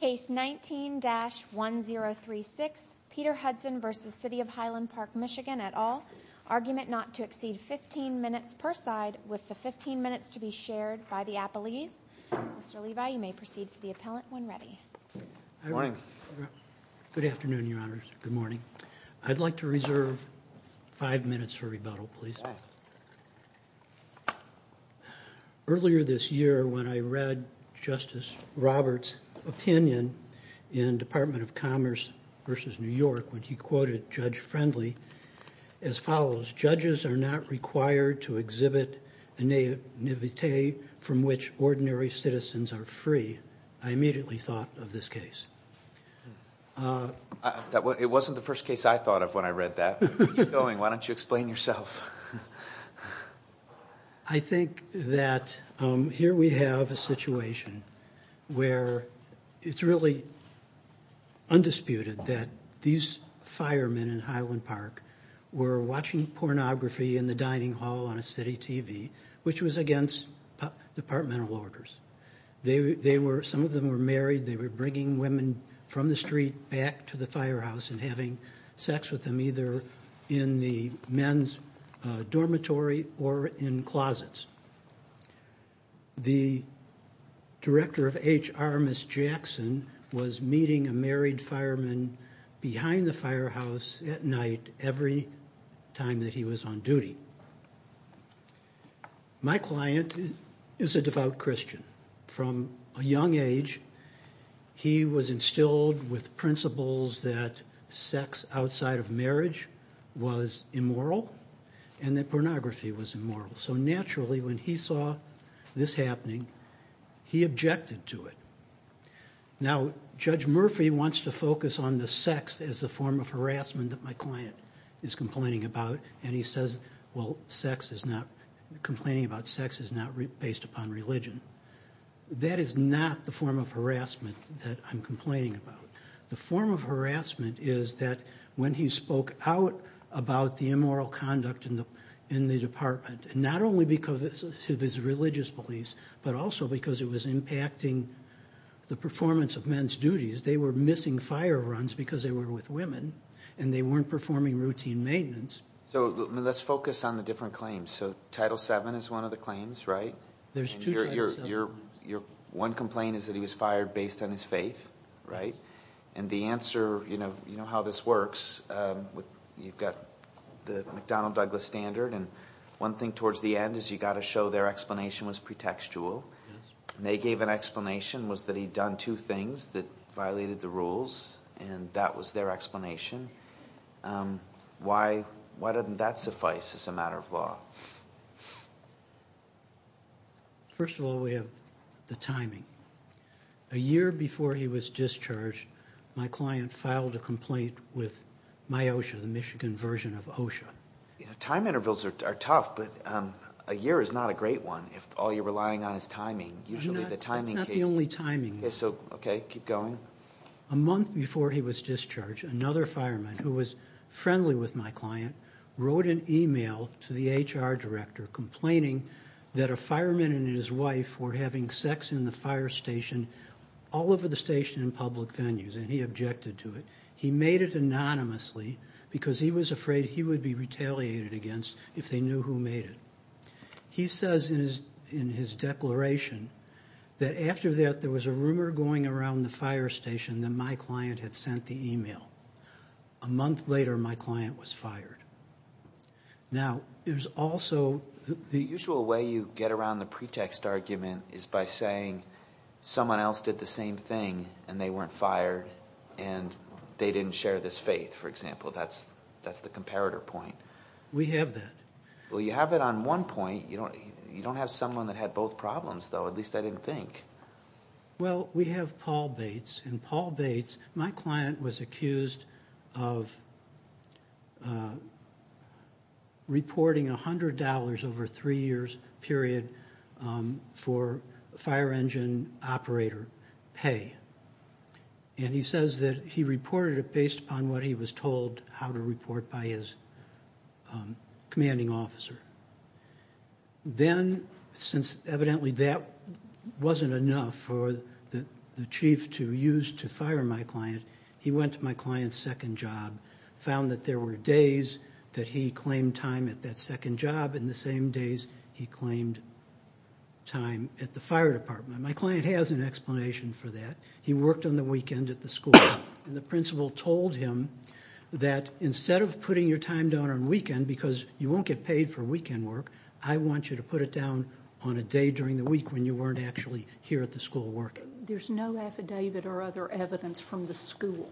Case 19-1036, Peter Hudson v. City of Highland Park, MI et al., argument not to exceed 15 minutes per side, with the 15 minutes to be shared by the appellees. Mr. Levi, you may proceed for the appellant when ready. Good afternoon, Your Honors. Good morning. I'd like to reserve five minutes for rebuttal, please. Earlier this year when I read Justice Roberts' opinion in Department of Commerce v. New York when he quoted Judge Friendly as follows, judges are not required to exhibit a naivete from which ordinary citizens are free, I immediately thought of this case. It wasn't the first case I thought of when I read that. Where are you going? Why don't you explain yourself? I think that here we have a situation where it's really undisputed that these firemen in Highland Park were watching pornography in the dining hall on a city TV, which was against departmental orders. Some of them were married. They were bringing women from the street back to the firehouse and having sex with them either in the men's dormitory or in closets. The director of H.R. Miss Jackson was meeting a married fireman behind the firehouse at night every time that he was on duty. My client is a devout Christian. From a young age, he was instilled with principles that sex outside of marriage was immoral and that pornography was immoral. So naturally when he saw this happening, he objected to it. Now Judge Murphy wants to focus on the sex as a form of harassment that my client is That is not the form of harassment that I'm complaining about. The form of harassment is that when he spoke out about the immoral conduct in the department, not only because of his religious beliefs, but also because it was impacting the performance of men's duties. They were missing fire runs because they were with women and they weren't performing routine maintenance. So let's focus on the different claims. So Title VII is one of the claims, right? There's two Title VII. One complaint is that he was fired based on his faith, right? And the answer, you know how this works, you've got the McDonnell-Douglas standard and one thing towards the end is you've got to show their explanation was pretextual and they gave an explanation was that he'd done two things that violated the rules and that was their explanation. Why doesn't that suffice as a matter of law? First of all, we have the timing. A year before he was discharged, my client filed a complaint with MIOSHA, the Michigan version of OSHA. Time intervals are tough, but a year is not a great one if all you're relying on is timing. Usually the timing... That's not the only timing. Okay, so keep going. A month before he was discharged, another fireman who was friendly with my client wrote an email to the HR director complaining that a fireman and his wife were having sex in the fire station all over the station in public venues and he objected to it. He made it anonymously because he was afraid he would be retaliated against if they knew who made it. He says in his declaration that after that, there was a rumor going around the fire station that my client had sent the email. A month later, my client was fired. Now there's also the usual way you get around the pretext argument is by saying someone else did the same thing and they weren't fired and they didn't share this faith, for example. That's the comparator point. We have that. Well, you have it on one point. You don't have someone that had both problems though, at least I didn't think. Well, we have Paul Bates and Paul Bates, my client was accused of reporting $100 over three years period for fire engine operator pay and he says that he reported it based on what he was told how to report by his commanding officer. Then since evidently that wasn't enough for the chief to use to fire my client, he went to my client's second job, found that there were days that he claimed time at that second job and the same days he claimed time at the fire department. My client has an explanation for that. He worked on the weekend at the school and the principal told him that instead of putting your time down on weekend because you won't get paid for weekend work, I want you to put it down on a day during the week when you weren't actually here at the school working. There's no affidavit or other evidence from the school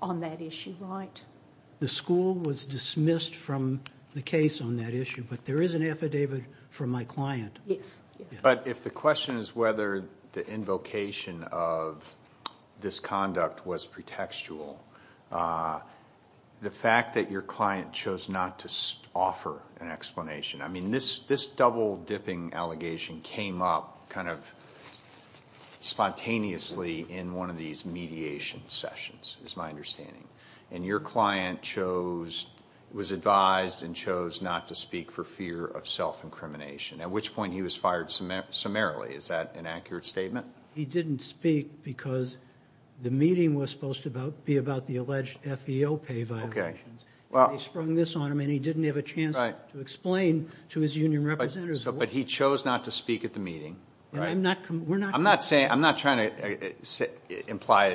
on that issue, right? The school was dismissed from the case on that issue, but there is an affidavit from my client. Yes. If the question is whether the invocation of this conduct was pretextual, the fact that your client chose not to offer an explanation, this double dipping allegation came up spontaneously in one of these mediation sessions is my understanding. Your client was advised and chose not to speak for fear of self-incrimination, at which point he was fired summarily. Is that an accurate statement? He didn't speak because the meeting was supposed to be about the alleged FEO pay violations. They sprung this on him and he didn't have a chance to explain to his union representatives. But he chose not to speak at the meeting. I'm not trying to imply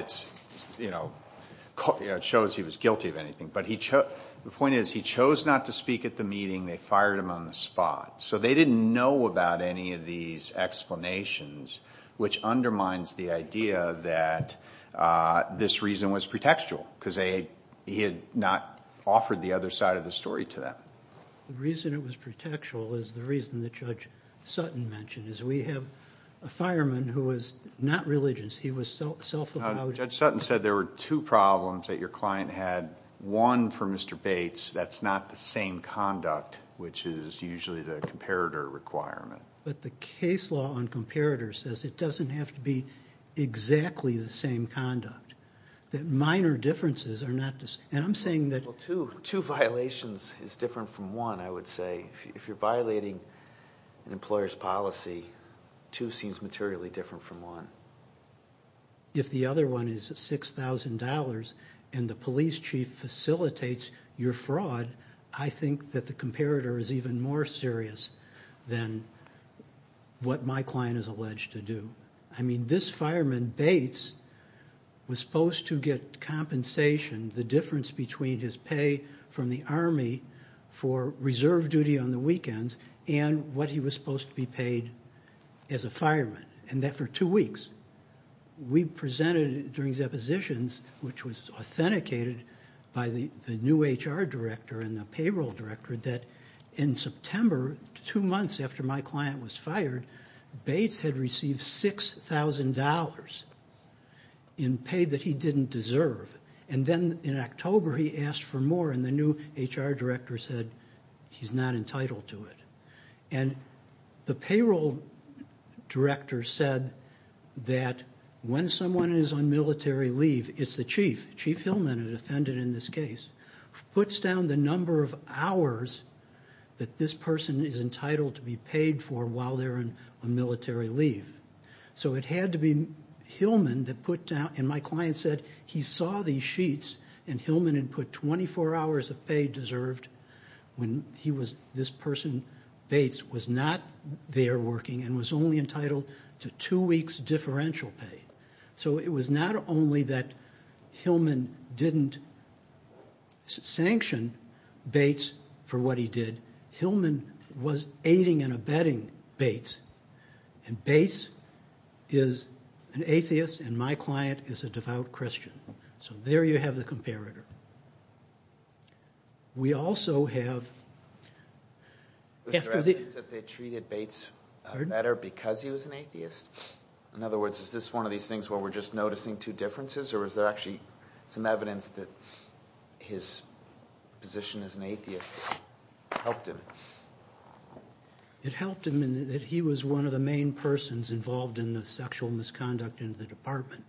it shows he was guilty of anything, but the point is he chose not to speak at the meeting, they fired him on the spot. So they didn't know about any of these explanations, which undermines the idea that this reason was pretextual, because he had not offered the other side of the story to them. The reason it was pretextual is the reason that Judge Sutton mentioned. We have a fireman who was not religious. He was self-allowed. Judge Sutton said there were two problems that your client had. One, for Mr. Bates, that's not the same conduct, which is usually the comparator requirement. But the case law on comparators says it doesn't have to be exactly the same conduct, that minor differences are not the same. And I'm saying that two violations is different from one, I would say. If you're violating an employer's policy, two seems materially different from one. If the other one is $6,000 and the police chief facilitates your fraud, I think that the comparator is even more serious than what my client is alleged to do. I mean, this fireman, Bates, was supposed to get compensation, the difference between his pay from the Army for reserve duty on the weekends and what he was supposed to be We presented during depositions, which was authenticated by the new HR director and the payroll director, that in September, two months after my client was fired, Bates had received $6,000 in pay that he didn't deserve. And then in October, he asked for more, and the new HR director said he's not entitled to it. And the payroll director said that when someone is on military leave, it's the chief. Chief Hillman, a defendant in this case, puts down the number of hours that this person is entitled to be paid for while they're on military leave. So it had to be Hillman that put down, and my client said he saw these sheets, and Hillman had put 24 hours of pay deserved when this person, Bates, was not there working and was only entitled to two weeks differential pay. So it was not only that Hillman didn't sanction Bates for what he did, Hillman was aiding and abetting Bates, and Bates is an atheist and my client is a devout Christian. So there you have the comparator. We also have... Was there evidence that they treated Bates better because he was an atheist? In other words, is this one of these things where we're just noticing two differences, or is there actually some evidence that his position as an atheist helped him? It helped him in that he was one of the main persons involved in the sexual misconduct in the department,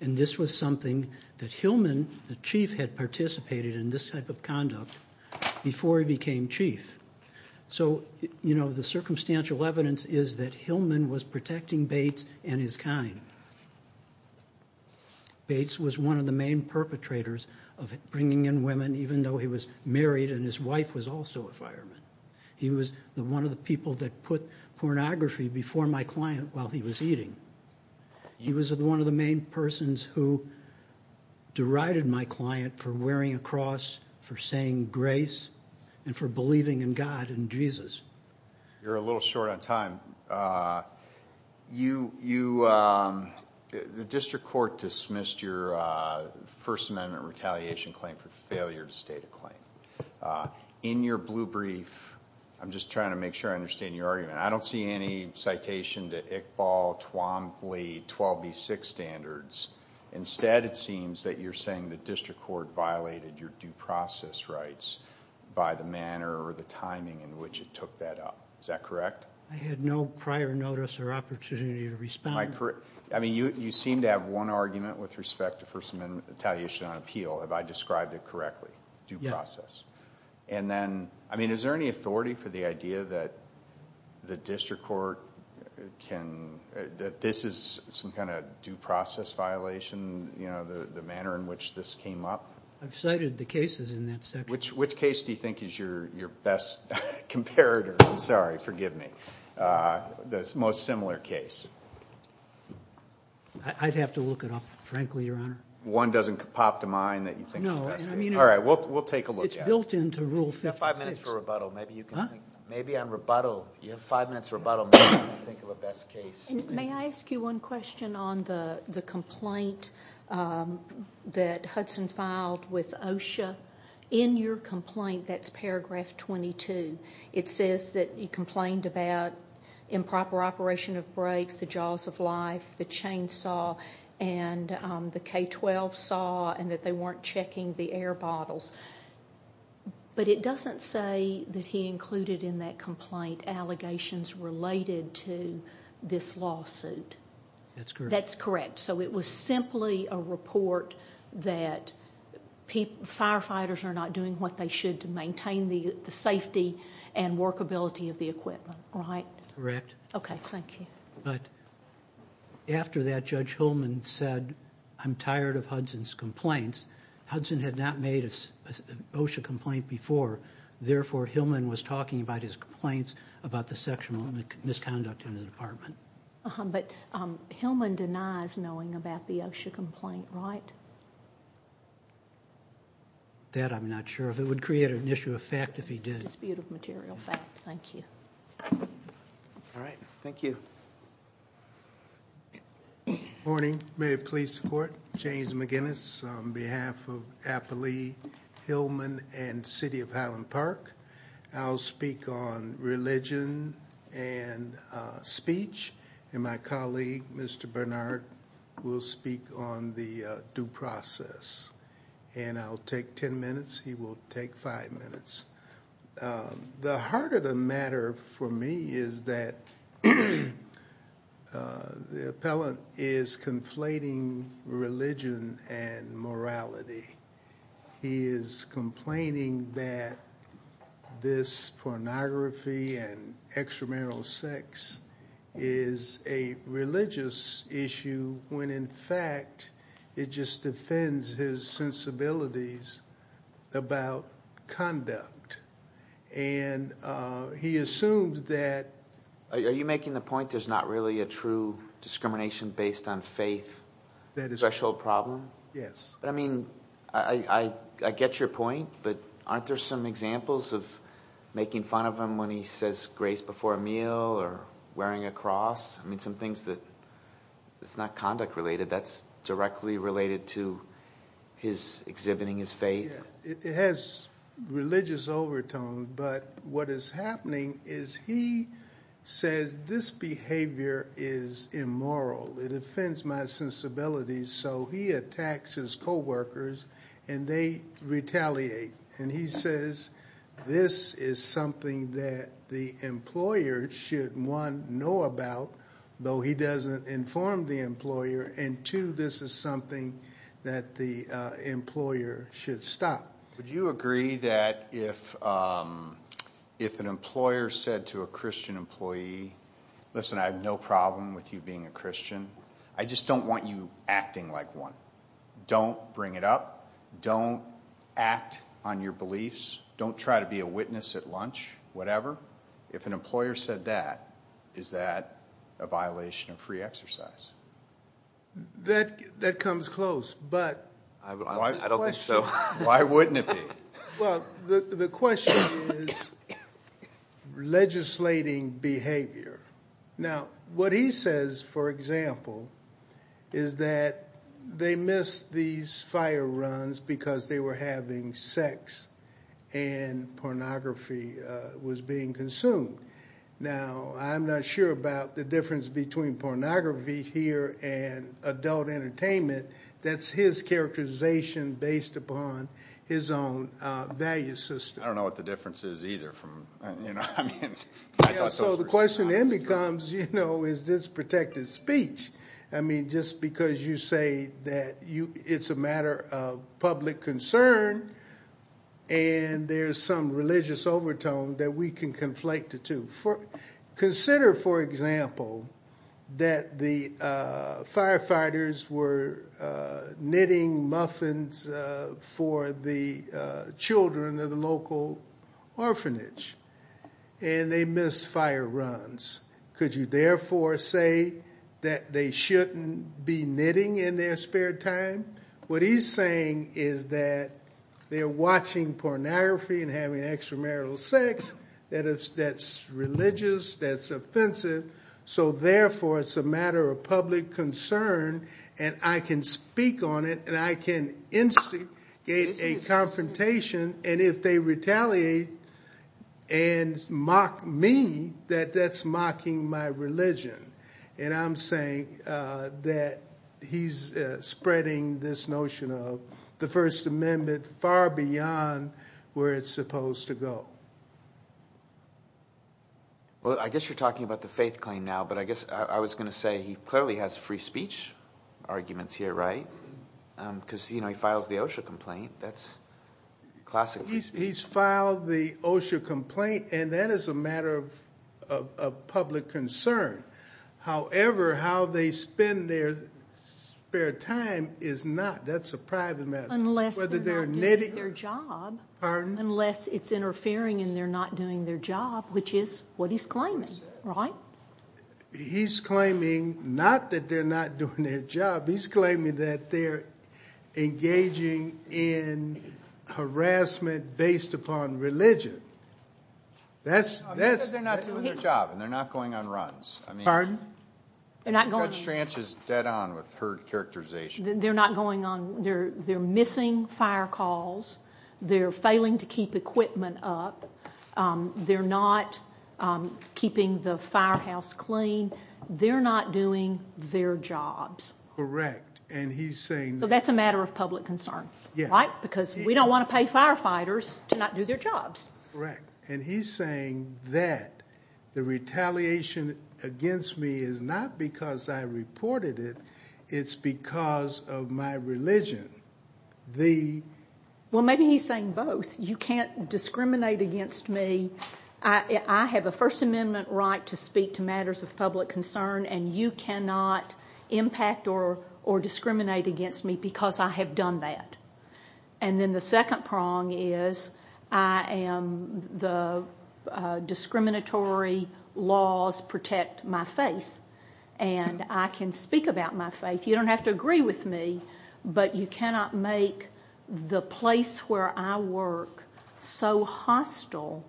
and this was something that Hillman, the chief, had participated in this type of conduct before he became chief. So the circumstantial evidence is that Hillman was protecting Bates and his kind. Bates was one of the main perpetrators of bringing in women, even though he was married and his wife was also a fireman. He was one of the people that put pornography before my client while he was eating. He was one of the main persons who derided my client for wearing a cross, for saying grace, and for believing in God and Jesus. You're a little short on time. The district court dismissed your First Amendment retaliation claim for failure to state a claim. In your blue brief, I'm just trying to make sure I understand your argument, I don't see any citation to Iqbal, Twombly, 12B6 standards. Instead, it seems that you're saying the district court violated your due process rights by the manner or the timing in which it took that up. Is that correct? I had no prior notice or opportunity to respond. You seem to have one argument with respect to First Amendment retaliation on appeal. Have I described it correctly? Due process. Yes. Is there any authority for the idea that the district court can... that this is some kind of due process violation, the manner in which this came up? I've cited the cases in that section. Which case do you think is your best comparator? I'm sorry, forgive me. This most similar case. I'd have to look it up, frankly, Your Honor. One doesn't pop to mind that you think is the best case? No. All right. We'll take a look at it. It's built into Rule 56. You have five minutes for rebuttal. Maybe you can think... Huh? Maybe on rebuttal. You have five minutes for rebuttal. Maybe you can think of a best case. May I ask you one question on the complaint that Hudson filed with OSHA? In your complaint, that's paragraph 22. It says that he complained about improper operation of brakes, the jaws of life, the air bottles, but it doesn't say that he included in that complaint allegations related to this lawsuit. That's correct. That's correct. It was simply a report that firefighters are not doing what they should to maintain the safety and workability of the equipment, right? Correct. Okay. Thank you. After that, Judge Holman said, I'm tired of Hudson's complaints. Hudson had not made an OSHA complaint before, therefore, Holman was talking about his complaints about the sexual misconduct in the department. But Holman denies knowing about the OSHA complaint, right? That I'm not sure of. It would create an issue of fact if he did. Dispute of material fact. Thank you. All right. Thank you. Good morning. May I please support James McGinnis on behalf of Appley, Hillman, and City of Highland Park? I'll speak on religion and speech, and my colleague, Mr. Bernard, will speak on the due process. And I'll take 10 minutes. He will take five minutes. The heart of the matter for me is that the appellant is conflating religion and morality. He is complaining that this pornography and extramarital sex is a religious issue, when in fact, it just offends his sensibilities about conduct. And he assumes that... Are you making the point there's not really a true discrimination based on faith threshold problem? Yes. I mean, I get your point, but aren't there some examples of making fun of him when he says grace before a meal or wearing a cross? I mean, some things that it's not conduct related, that's directly related to his exhibiting his faith. Yeah. It has religious overtone, but what is happening is he says, this behavior is immoral. It offends my sensibilities. So he attacks his coworkers, and they retaliate. And he says, this is something that the employer should, one, know about, though he doesn't inform the employer, and two, this is something that the employer should stop. Would you agree that if an employer said to a Christian employee, listen, I have no problem with you being a Christian, I just don't want you acting like one. Don't bring it up. Don't act on your beliefs. Don't try to be a witness at lunch, whatever. If an employer said that, is that a violation of free exercise? That comes close, but I don't think so. Why wouldn't it be? Well, the question is legislating behavior. Now, what he says, for example, is that they missed these fire runs because they were having sex and pornography was being consumed. Now, I'm not sure about the difference between pornography here and adult entertainment. That's his characterization based upon his own value system. I don't know what the difference is either. I mean, I thought those were his thoughts, too. So the question then becomes, is this protected speech? I mean, just because you say that it's a matter of public concern and there's some religious overtone that we can conflate the two. Consider, for example, that the firefighters were knitting muffins for the children of a local orphanage, and they missed fire runs. Could you therefore say that they shouldn't be knitting in their spare time? What he's saying is that they're watching pornography and having extramarital sex that's religious, that's offensive. So therefore, it's a matter of public concern, and I can speak on it, and I can instigate a confrontation, and if they retaliate and mock me, that that's mocking my religion. And I'm saying that he's spreading this notion of the First Amendment far beyond where it's supposed to go. Well, I guess you're talking about the faith claim now, but I guess I was going to say he clearly has free speech arguments here, right, because, you know, he files the OSHA complaint. That's classic free speech. He's filed the OSHA complaint, and that is a matter of public concern. However, how they spend their spare time is not. That's a private matter. Unless they're not doing their job. Pardon? Unless it's interfering and they're not doing their job, which is what he's claiming, right? He's claiming not that they're not doing their job. He's claiming that they're engaging in harassment based upon religion. No, he said they're not doing their job, and they're not going on runs. They're not going on runs. Judge Stranch is dead on with her characterization. They're not going on, they're missing fire calls, they're failing to keep equipment up, they're not keeping the firehouse clean, they're not doing their jobs. Correct. And he's saying... So that's a matter of public concern, right? Because we don't want to pay firefighters to not do their jobs. Correct. And he's saying that the retaliation against me is not because I reported it, it's because of my religion. Well, maybe he's saying both. You can't discriminate against me. I have a First Amendment right to speak to matters of public concern, and you cannot impact or discriminate against me because I have done that. And then the second prong is I am the discriminatory laws protect my faith, and I can speak about my faith. You don't have to agree with me, but you cannot make the place where I work so hostile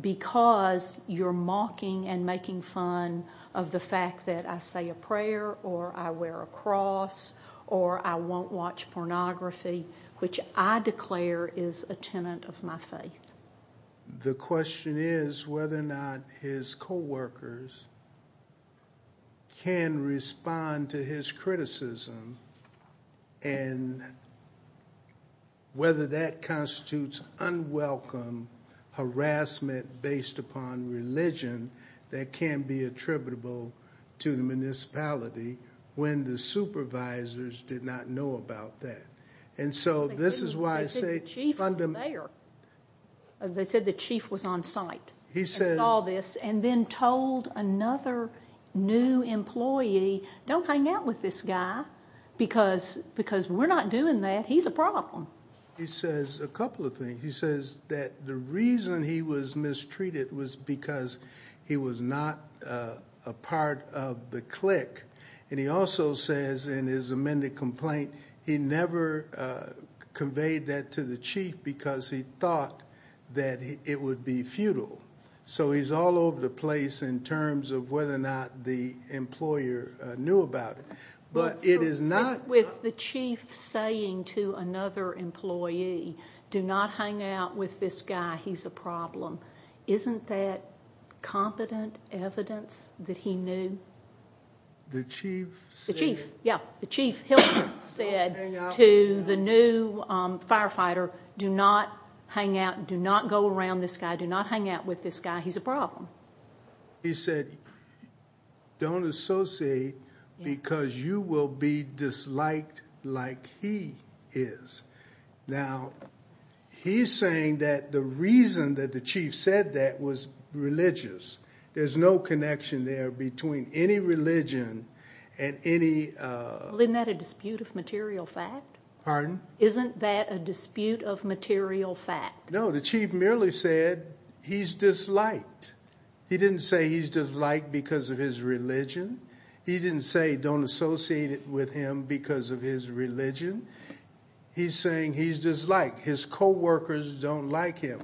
because you're mocking and making fun of the fact that I say a prayer, or I wear a cross, or I won't watch pornography, which I declare is a tenet of my faith. The question is whether or not his co-workers can respond to his criticism and whether that constitutes unwelcome harassment based upon religion that can be attributable to the municipality when the supervisors did not know about that. And so this is why I say... They said the chief was there. They said the chief was on site and saw this and then told another new employee, don't hang out with this guy because we're not doing that, he's a problem. He says a couple of things. He says that the reason he was mistreated was because he was not a part of the clique. And he also says in his amended complaint, he never conveyed that to the chief because he thought that it would be futile. So he's all over the place in terms of whether or not the employer knew about it. But it is not... With the chief saying to another employee, do not hang out with this guy, he's a problem. Isn't that competent evidence that he knew? The chief... The chief, yeah. The chief said to the new firefighter, do not hang out, do not go around this guy, do not hang out with this guy, he's a problem. He said, don't associate because you will be disliked like he is. Now, he's saying that the reason that the chief said that was religious. There's no connection there between any religion and any... Well, isn't that a dispute of material fact? Pardon? Isn't that a dispute of material fact? No, the chief merely said he's disliked. He didn't say he's disliked because of his religion. He didn't say don't associate with him because of his religion. He's saying he's disliked. His co-workers don't like him.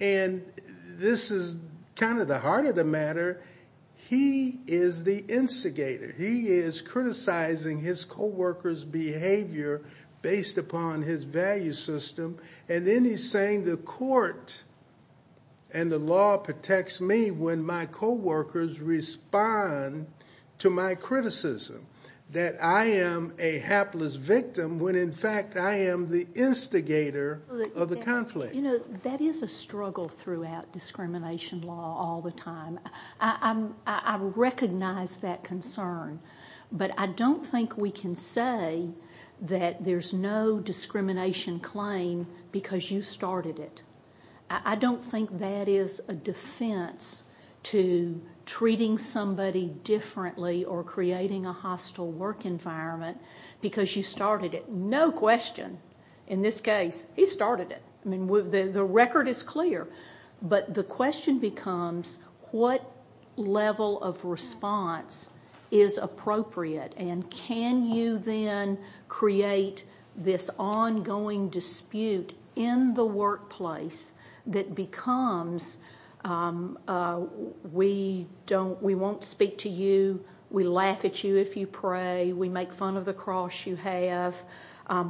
And this is kind of the heart of the matter. He is the instigator. He is criticizing his co-workers' behavior based upon his value system. And then he's saying the court and the law protects me when my co-workers respond to my criticism that I am a hapless victim when, in fact, I am the instigator of the conflict. That is a struggle throughout discrimination law all the time. I recognize that concern. But I don't think we can say that there's no discrimination claim because you started it. I don't think that is a defense to treating somebody differently or creating a hostile work environment because you started it. No question in this case, he started it. The record is clear. But the question becomes what level of response is appropriate? And can you then create this ongoing dispute in the workplace that becomes we won't speak to you, we laugh at you if you pray, we make fun of the cross you have,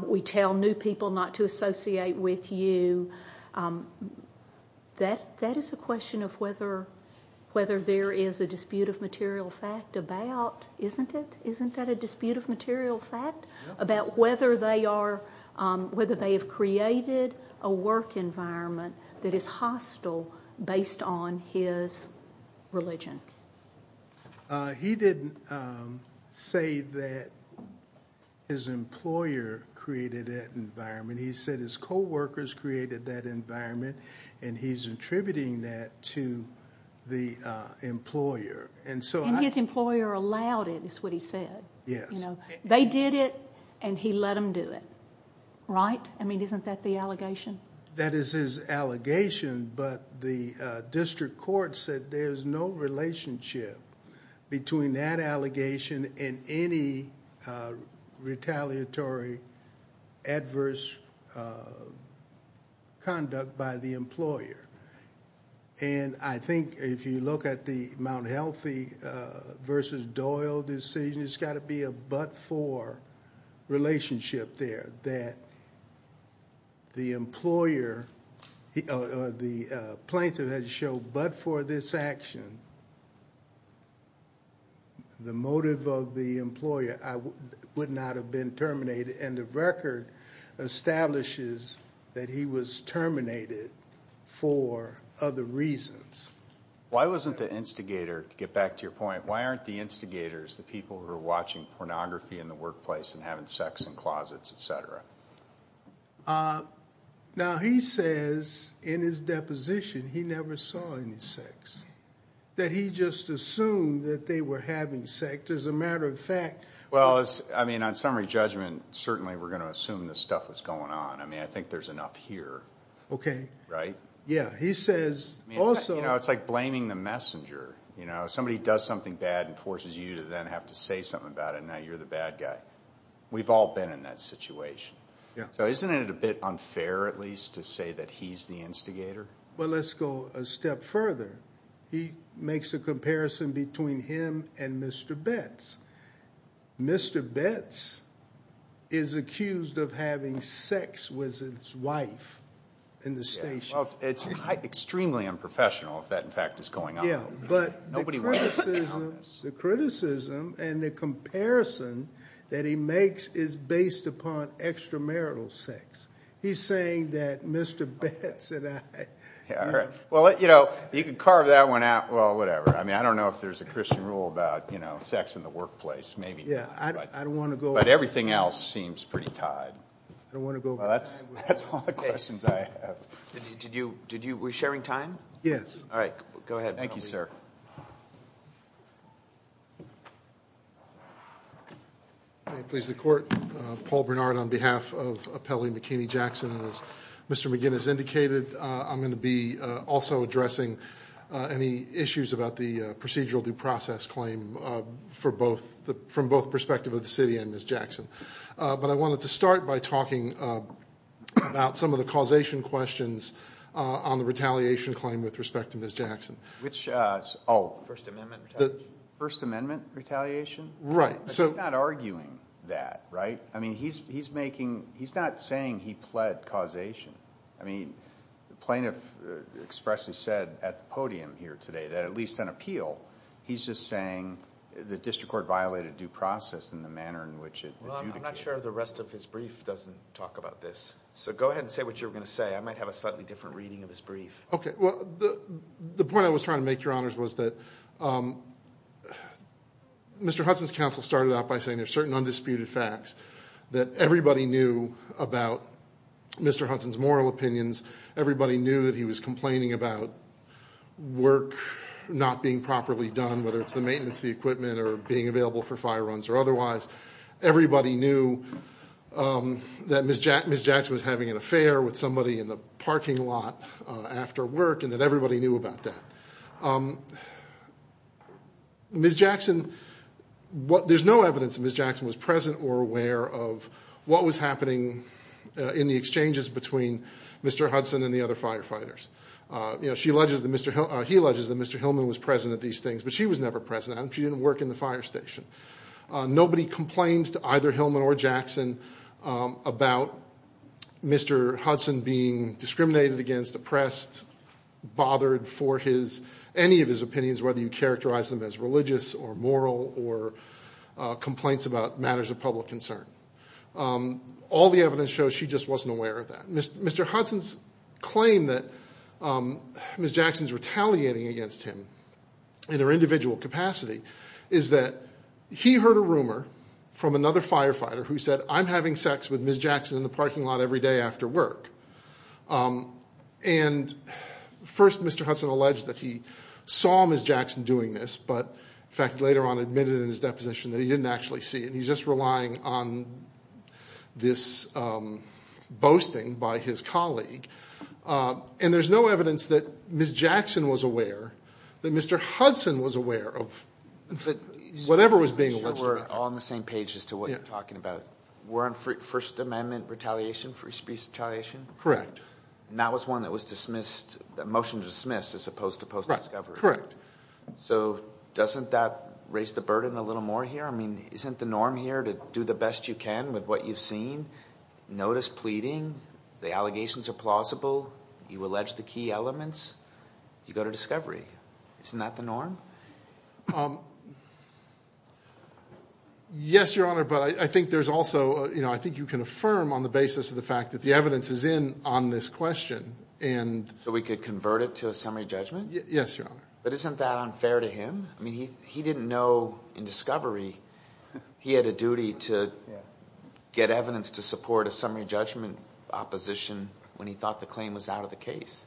we tell new people not to associate with you. That is a question of whether there is a dispute of material fact about, isn't it? Isn't that a dispute of material fact about whether they have created a work environment that is hostile based on his religion? He didn't say that his employer created that environment. He said his co-workers created that environment and he's attributing that to the employer. And his employer allowed it, is what he said. They did it and he let them do it, right? I mean, isn't that the allegation? That is his allegation, but the district court said there's no relationship between that allegation and any retaliatory adverse conduct by the employer. And I think if you look at the Mount Healthy versus Doyle decision, it's got to be a but that the employer, the plaintiff had to show but for this action, the motive of the employer would not have been terminated. And the record establishes that he was terminated for other reasons. Why wasn't the instigator, to get back to your point, why aren't the instigators, the people who are watching pornography in the workplace and having sex in closets, et cetera? Now, he says in his deposition, he never saw any sex. That he just assumed that they were having sex as a matter of fact. Well, I mean, on summary judgment, certainly we're going to assume this stuff was going on. I mean, I think there's enough here. Okay. Right? Yeah. He says also... You know, it's like blaming the messenger. You know, somebody does something bad and forces you to then have to say something about it. Now, you're the bad guy. We've all been in that situation. Yeah. So isn't it a bit unfair, at least, to say that he's the instigator? Well, let's go a step further. He makes a comparison between him and Mr. Betts. Mr. Betts is accused of having sex with his wife in the station. It's extremely unprofessional if that, in fact, is going on. But the criticism and the comparison that he makes is based upon extramarital sex. He's saying that Mr. Betts and I... Yeah, all right. Well, you know, you can carve that one out. Well, whatever. I mean, I don't know if there's a Christian rule about, you know, sex in the workplace, maybe. Yeah, I don't want to go... But everything else seems pretty tied. I don't want to go... Well, that's all the questions I have. Did you... We're sharing time? Yes. All right. Go ahead. Thank you, sir. May it please the Court. Paul Bernard on behalf of Appellee McKinney-Jackson. And as Mr. McGinn has indicated, I'm going to be also addressing any issues about the procedural due process claim from both perspectives of the city and Ms. Jackson. But I wanted to start by talking about some of the causation questions on the retaliation claim with respect to Ms. Jackson. Which, oh... First Amendment retaliation. First Amendment retaliation? Right. But he's not arguing that, right? I mean, he's making... He's not saying he pled causation. I mean, the plaintiff expressly said at the podium here today that at least on appeal, he's just saying the district court violated due process in the manner in which it adjudicated. Well, I'm not sure the rest of his brief doesn't talk about this. So go ahead and say what you were going to say. I might have a slightly different reading of his brief. Okay. Well, the point I was trying to make, Your Honors, was that Mr. Hudson's counsel started out by saying there's certain undisputed facts that everybody knew about Mr. Hudson's moral opinions. Everybody knew that he was complaining about work not being properly done, whether it's the maintenance equipment or being available for fire runs or otherwise. Everybody knew that Ms. Jackson was having an affair with somebody in the parking lot after work and that everybody knew about that. Ms. Jackson... There's no evidence that Ms. Jackson was present or aware of what was happening in the exchanges between Mr. Hudson and the other firefighters. He alleges that Mr. Hillman was present at these things, but she was never present at them. She didn't work in the fire station. Nobody complains to either Hillman or Jackson about Mr. Hudson being discriminated against, oppressed, bothered for any of his opinions, whether you characterize them as religious or moral or complaints about matters of public concern. All the evidence shows she just wasn't aware of that. Mr. Hudson's claim that Ms. Jackson's retaliating against him in her individual capacity is that he heard a rumor from another firefighter who said, I'm having sex with Ms. Jackson in the parking lot every day after work. And first Mr. Hudson alleged that he saw Ms. Jackson doing this, but in fact later on admitted in his deposition that he didn't actually see it. He's just relying on this boasting by his colleague. And there's no evidence that Ms. Jackson was aware, all on the same page as to what you're talking about. We're on First Amendment retaliation, free speech retaliation? Correct. That was one that was dismissed, the motion to dismiss as opposed to post discovery. Correct. So doesn't that raise the burden a little more here? I mean, isn't the norm here to do the best you can with what you've seen? Notice pleading, the allegations are plausible, you allege the key elements, you go to discovery. Isn't that the norm? Yes, Your Honor. But I think there's also, I think you can affirm on the basis of the fact that the evidence is in on this question. So we could convert it to a summary judgment? Yes, Your Honor. But isn't that unfair to him? I mean, he didn't know in discovery, he had a duty to get evidence to support a summary judgment opposition when he thought the claim was out of the case.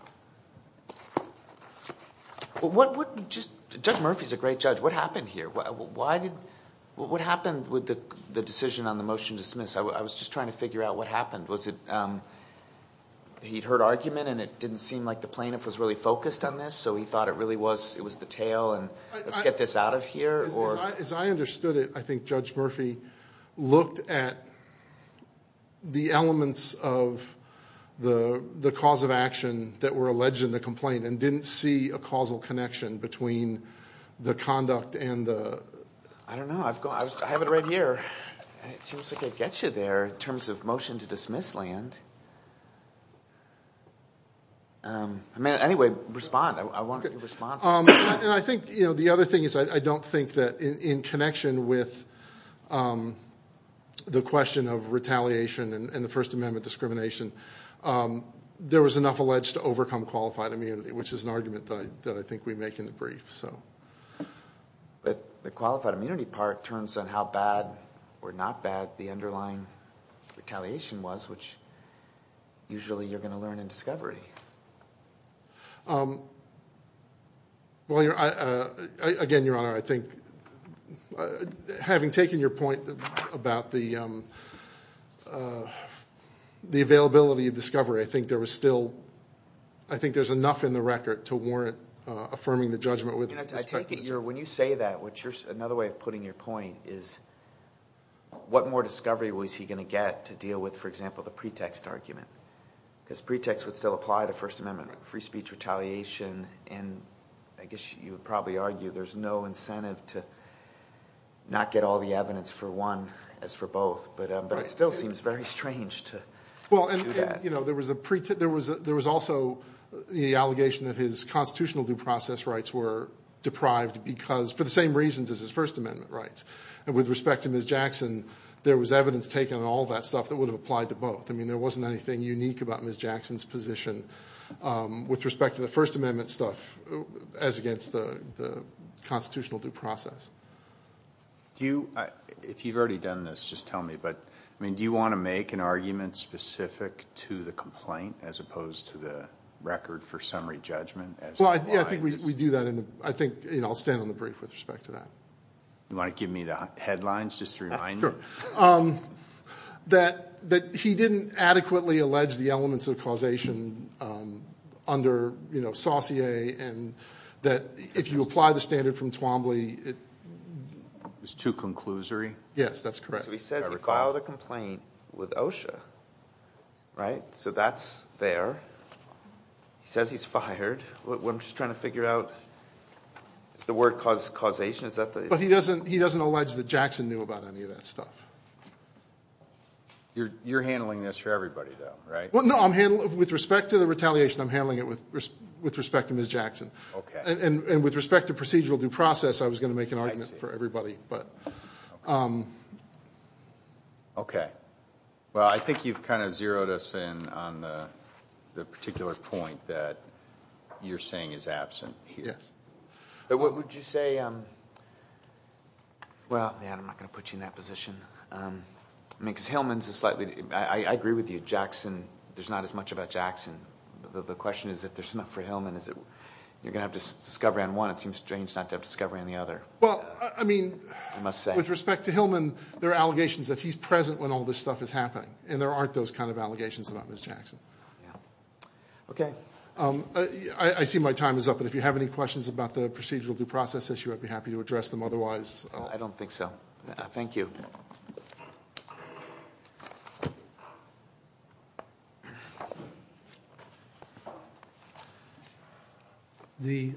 Judge Murphy's a great judge. What happened here? What happened with the decision on the motion to dismiss? I was just trying to figure out what happened. He'd heard argument and it didn't seem like the plaintiff was really focused on this, so he thought it really was the tail and let's get this out of here? As I understood it, I think Judge Murphy looked at the elements of the cause of action that were alleged in the complaint and didn't see a causal connection between the conduct and the... I don't know. I have it right here. It seems like I get you there in terms of motion to dismiss land. I mean, anyway, respond. I want your response. And I think, you know, the other thing is I don't think that in connection with the question of retaliation and the First Amendment discrimination, there was enough alleged to overcome qualified immunity, which is an argument that I think we make in the brief. So... But the qualified immunity part turns on how bad or not bad the underlying retaliation was, which usually you're going to learn in discovery. Well, again, Your Honor, I think having taken your point about the availability of discovery, I think there was still... Affirming the judgment with respect to... When you say that, another way of putting your point is, what more discovery was he going to get to deal with, for example, the pretext argument? Because pretext would still apply to First Amendment free speech retaliation. And I guess you would probably argue there's no incentive to not get all the evidence for one as for both. But it still seems very strange to do that. There was also the allegation that his constitutional due process rights were deprived because... For the same reasons as his First Amendment rights. And with respect to Ms. Jackson, there was evidence taken on all that stuff that would have applied to both. I mean, there wasn't anything unique about Ms. Jackson's position with respect to the First Amendment stuff as against the constitutional due process. Do you... If you've already done this, just tell me. Do you want to make an argument specific to the complaint as opposed to the record for summary judgment? Well, I think we do that. I'll stand on the brief with respect to that. You want to give me the headlines just to remind me? Sure. That he didn't adequately allege the elements of causation under Saussure, and that if you apply the standard from Twombly... It's too conclusory? Yes, that's correct. He says he filed a complaint with OSHA, right? So that's there. He says he's fired. What I'm just trying to figure out... Is the word causation? Is that the... He doesn't allege that Jackson knew about any of that stuff. You're handling this for everybody, though, right? Well, no, I'm handling it with respect to the retaliation. I'm handling it with respect to Ms. Jackson. And with respect to procedural due process, I was going to make an argument for everybody, but... Okay. Well, I think you've kind of zeroed us in on the particular point that you're saying is absent here. Yes. But what would you say... Well, yeah, I'm not going to put you in that position. I mean, because Hillman's a slightly... I agree with you. Jackson... There's not as much about Jackson. The question is, if there's enough for Hillman, is it... You're going to have discovery on one. It seems strange not to have discovery on the other. Well, I mean, with respect to Hillman, there are allegations that he's present when all this stuff is happening, and there aren't those kind of allegations about Ms. Jackson. Okay. I see my time is up, but if you have any questions about the procedural due process issue, I'd be happy to address them. Otherwise... I don't think so. Thank you. Okay. The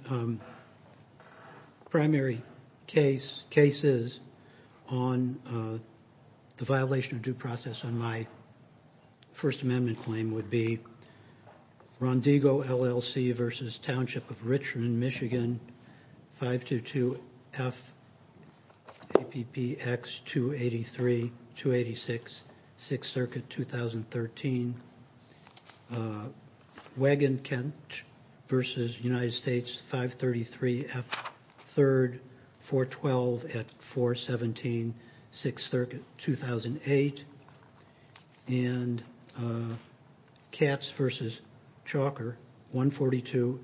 primary cases on the violation of due process on my First Amendment claim would be 286, 6th Circuit, 2013. Wagenkent v. United States, 533, F3, 412 at 417, 6th Circuit, 2008. And Katz v. Chalker, 142,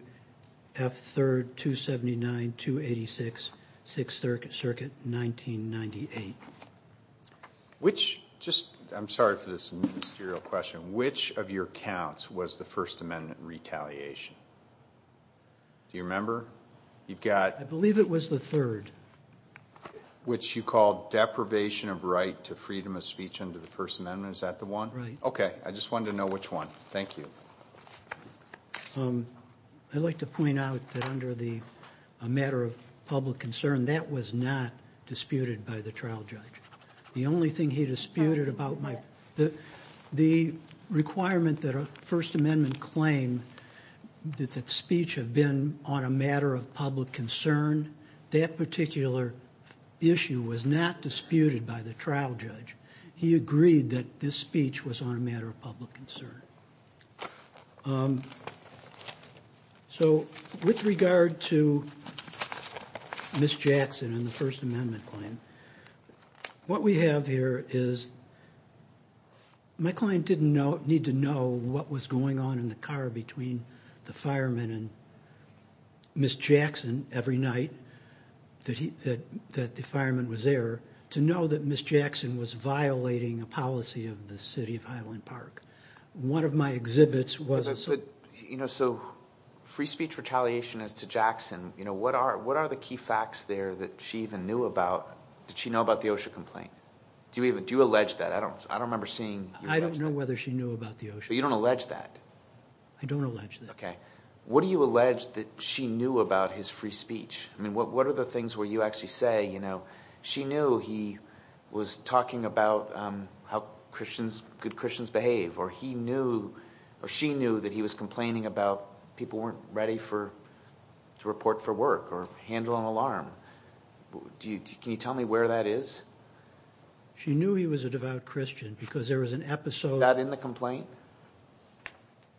F3, 279, 286, 6th Circuit, 1998. Which... Just... I'm sorry for this ministerial question. Which of your counts was the First Amendment retaliation? Do you remember? You've got... I believe it was the third. Which you called deprivation of right to freedom of speech under the First Amendment. Is that the one? Right. Okay. I just wanted to know which one. Thank you. I'd like to point out that under the matter of public concern, that was not disputed by the trial judge. The only thing he disputed about my... The requirement that a First Amendment claim that speech have been on a matter of public concern, that particular issue was not disputed by the trial judge. He agreed that this speech was on a matter of public concern. So with regard to Ms. Jackson and the First Amendment claim, what we have here is... My client didn't need to know what was going on in the car between the fireman and Ms. Jackson every night that the fireman was there to know that Ms. Jackson was violating a policy of the city of Highland Park. One of my exhibits was... So free speech retaliation as to Jackson, what are the key facts there that she even knew about? Did she know about the OSHA complaint? Do you even... Do you allege that? I don't remember seeing... I don't know whether she knew about the OSHA. But you don't allege that? I don't allege that. Okay. What do you allege that she knew about his free speech? I mean, what are the things where you actually say, she knew he was talking about how good Christians behave, or she knew that he was complaining about people weren't ready to report for work or handle an alarm. Do you... Can you tell me where that is? She knew he was a devout Christian because there was an episode... Is that in the complaint?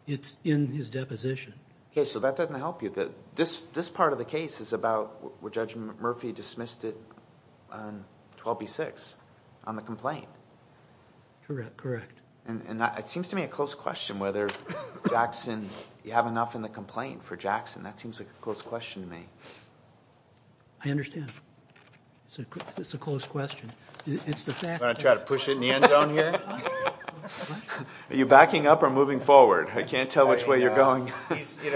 It's in his deposition. Okay. So that doesn't help you that this part of the case is about what Judge Murphy dismissed it on 12b-6, on the complaint. Correct. And it seems to me a close question whether Jackson... You have enough in the complaint for Jackson. That seems like a close question to me. I understand. It's a close question. It's the fact that... Want to try to push in the end zone here? Are you backing up or moving forward? I can't tell which way you're going. Do you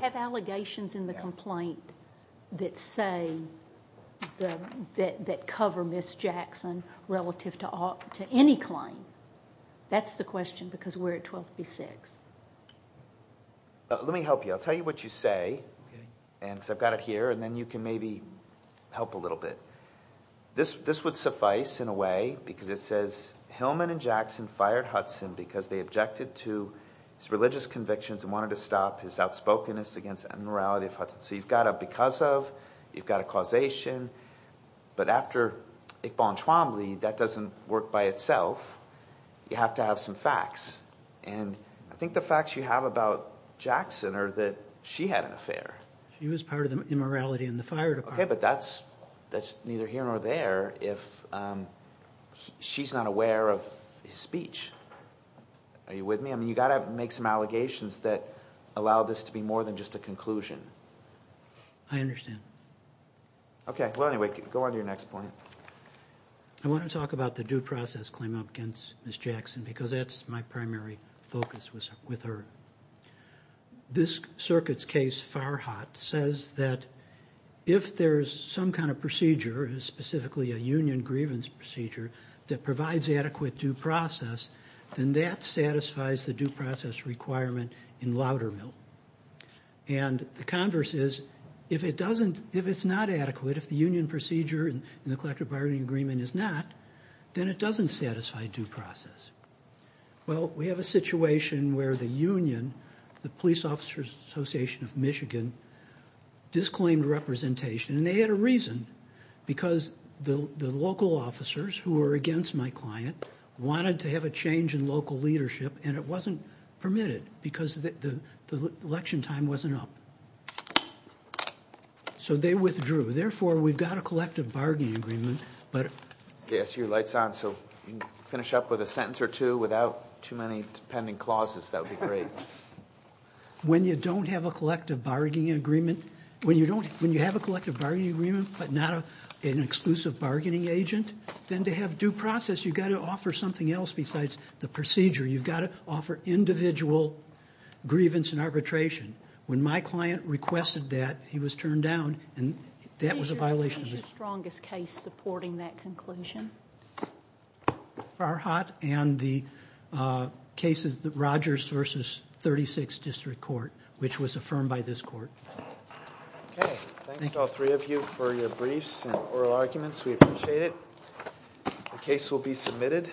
have allegations in the complaint that say, that cover Ms. Jackson relative to any claim? That's the question because we're at 12b-6. Let me help you. I'll tell you what you say. Because I've got it here and then you can maybe help a little bit. This would suffice in a way because it says, Hillman and Jackson fired Hudson because they objected to his religious convictions and wanted to stop his outspokenness against immorality of Hudson. So you've got a because of, you've got a causation. But after Iqbal and Chwambli, that doesn't work by itself. You have to have some facts. And I think the facts you have about Jackson are that she had an affair. She was part of the immorality in the fire department. Okay, but that's neither here nor there if she's not aware of his speech. Are you with me? I mean, you got to make some allegations that allow this to be more than just a conclusion. I understand. Okay. Well, anyway, go on to your next point. I want to talk about the due process claim up against Ms. Jackson because that's my primary focus with her. This circuit's case, Farhat, says that if there's some kind of procedure, specifically a union grievance procedure, that provides adequate due process, then that satisfies the due process requirement in Loudermill. And the converse is, if it doesn't, if it's not adequate, if the union procedure and the collective bargaining agreement is not, then it doesn't satisfy due process. Well, we have a situation where the union, the Police Officers Association of Michigan, disclaimed representation and they had a reason because the local officers who were against my client wanted to have a change in local leadership and it wasn't permitted because the election time wasn't up. So they withdrew. Therefore, we've got a collective bargaining agreement. Yes, your light's on. So finish up with a sentence or two without too many pending clauses. That would be great. When you don't have a collective bargaining agreement, when you don't, when you have a collective bargaining agreement but not an exclusive bargaining agent, then to have due process, you've got to offer something else besides the procedure. You've got to offer individual grievance and arbitration. When my client requested that, he was turned down and that was a violation. What is your strongest case supporting that conclusion? Farhat and the case of the Rogers versus 36th District Court, which was affirmed by this court. Okay, thanks to all three of you for your briefs and oral arguments. The case will be submitted.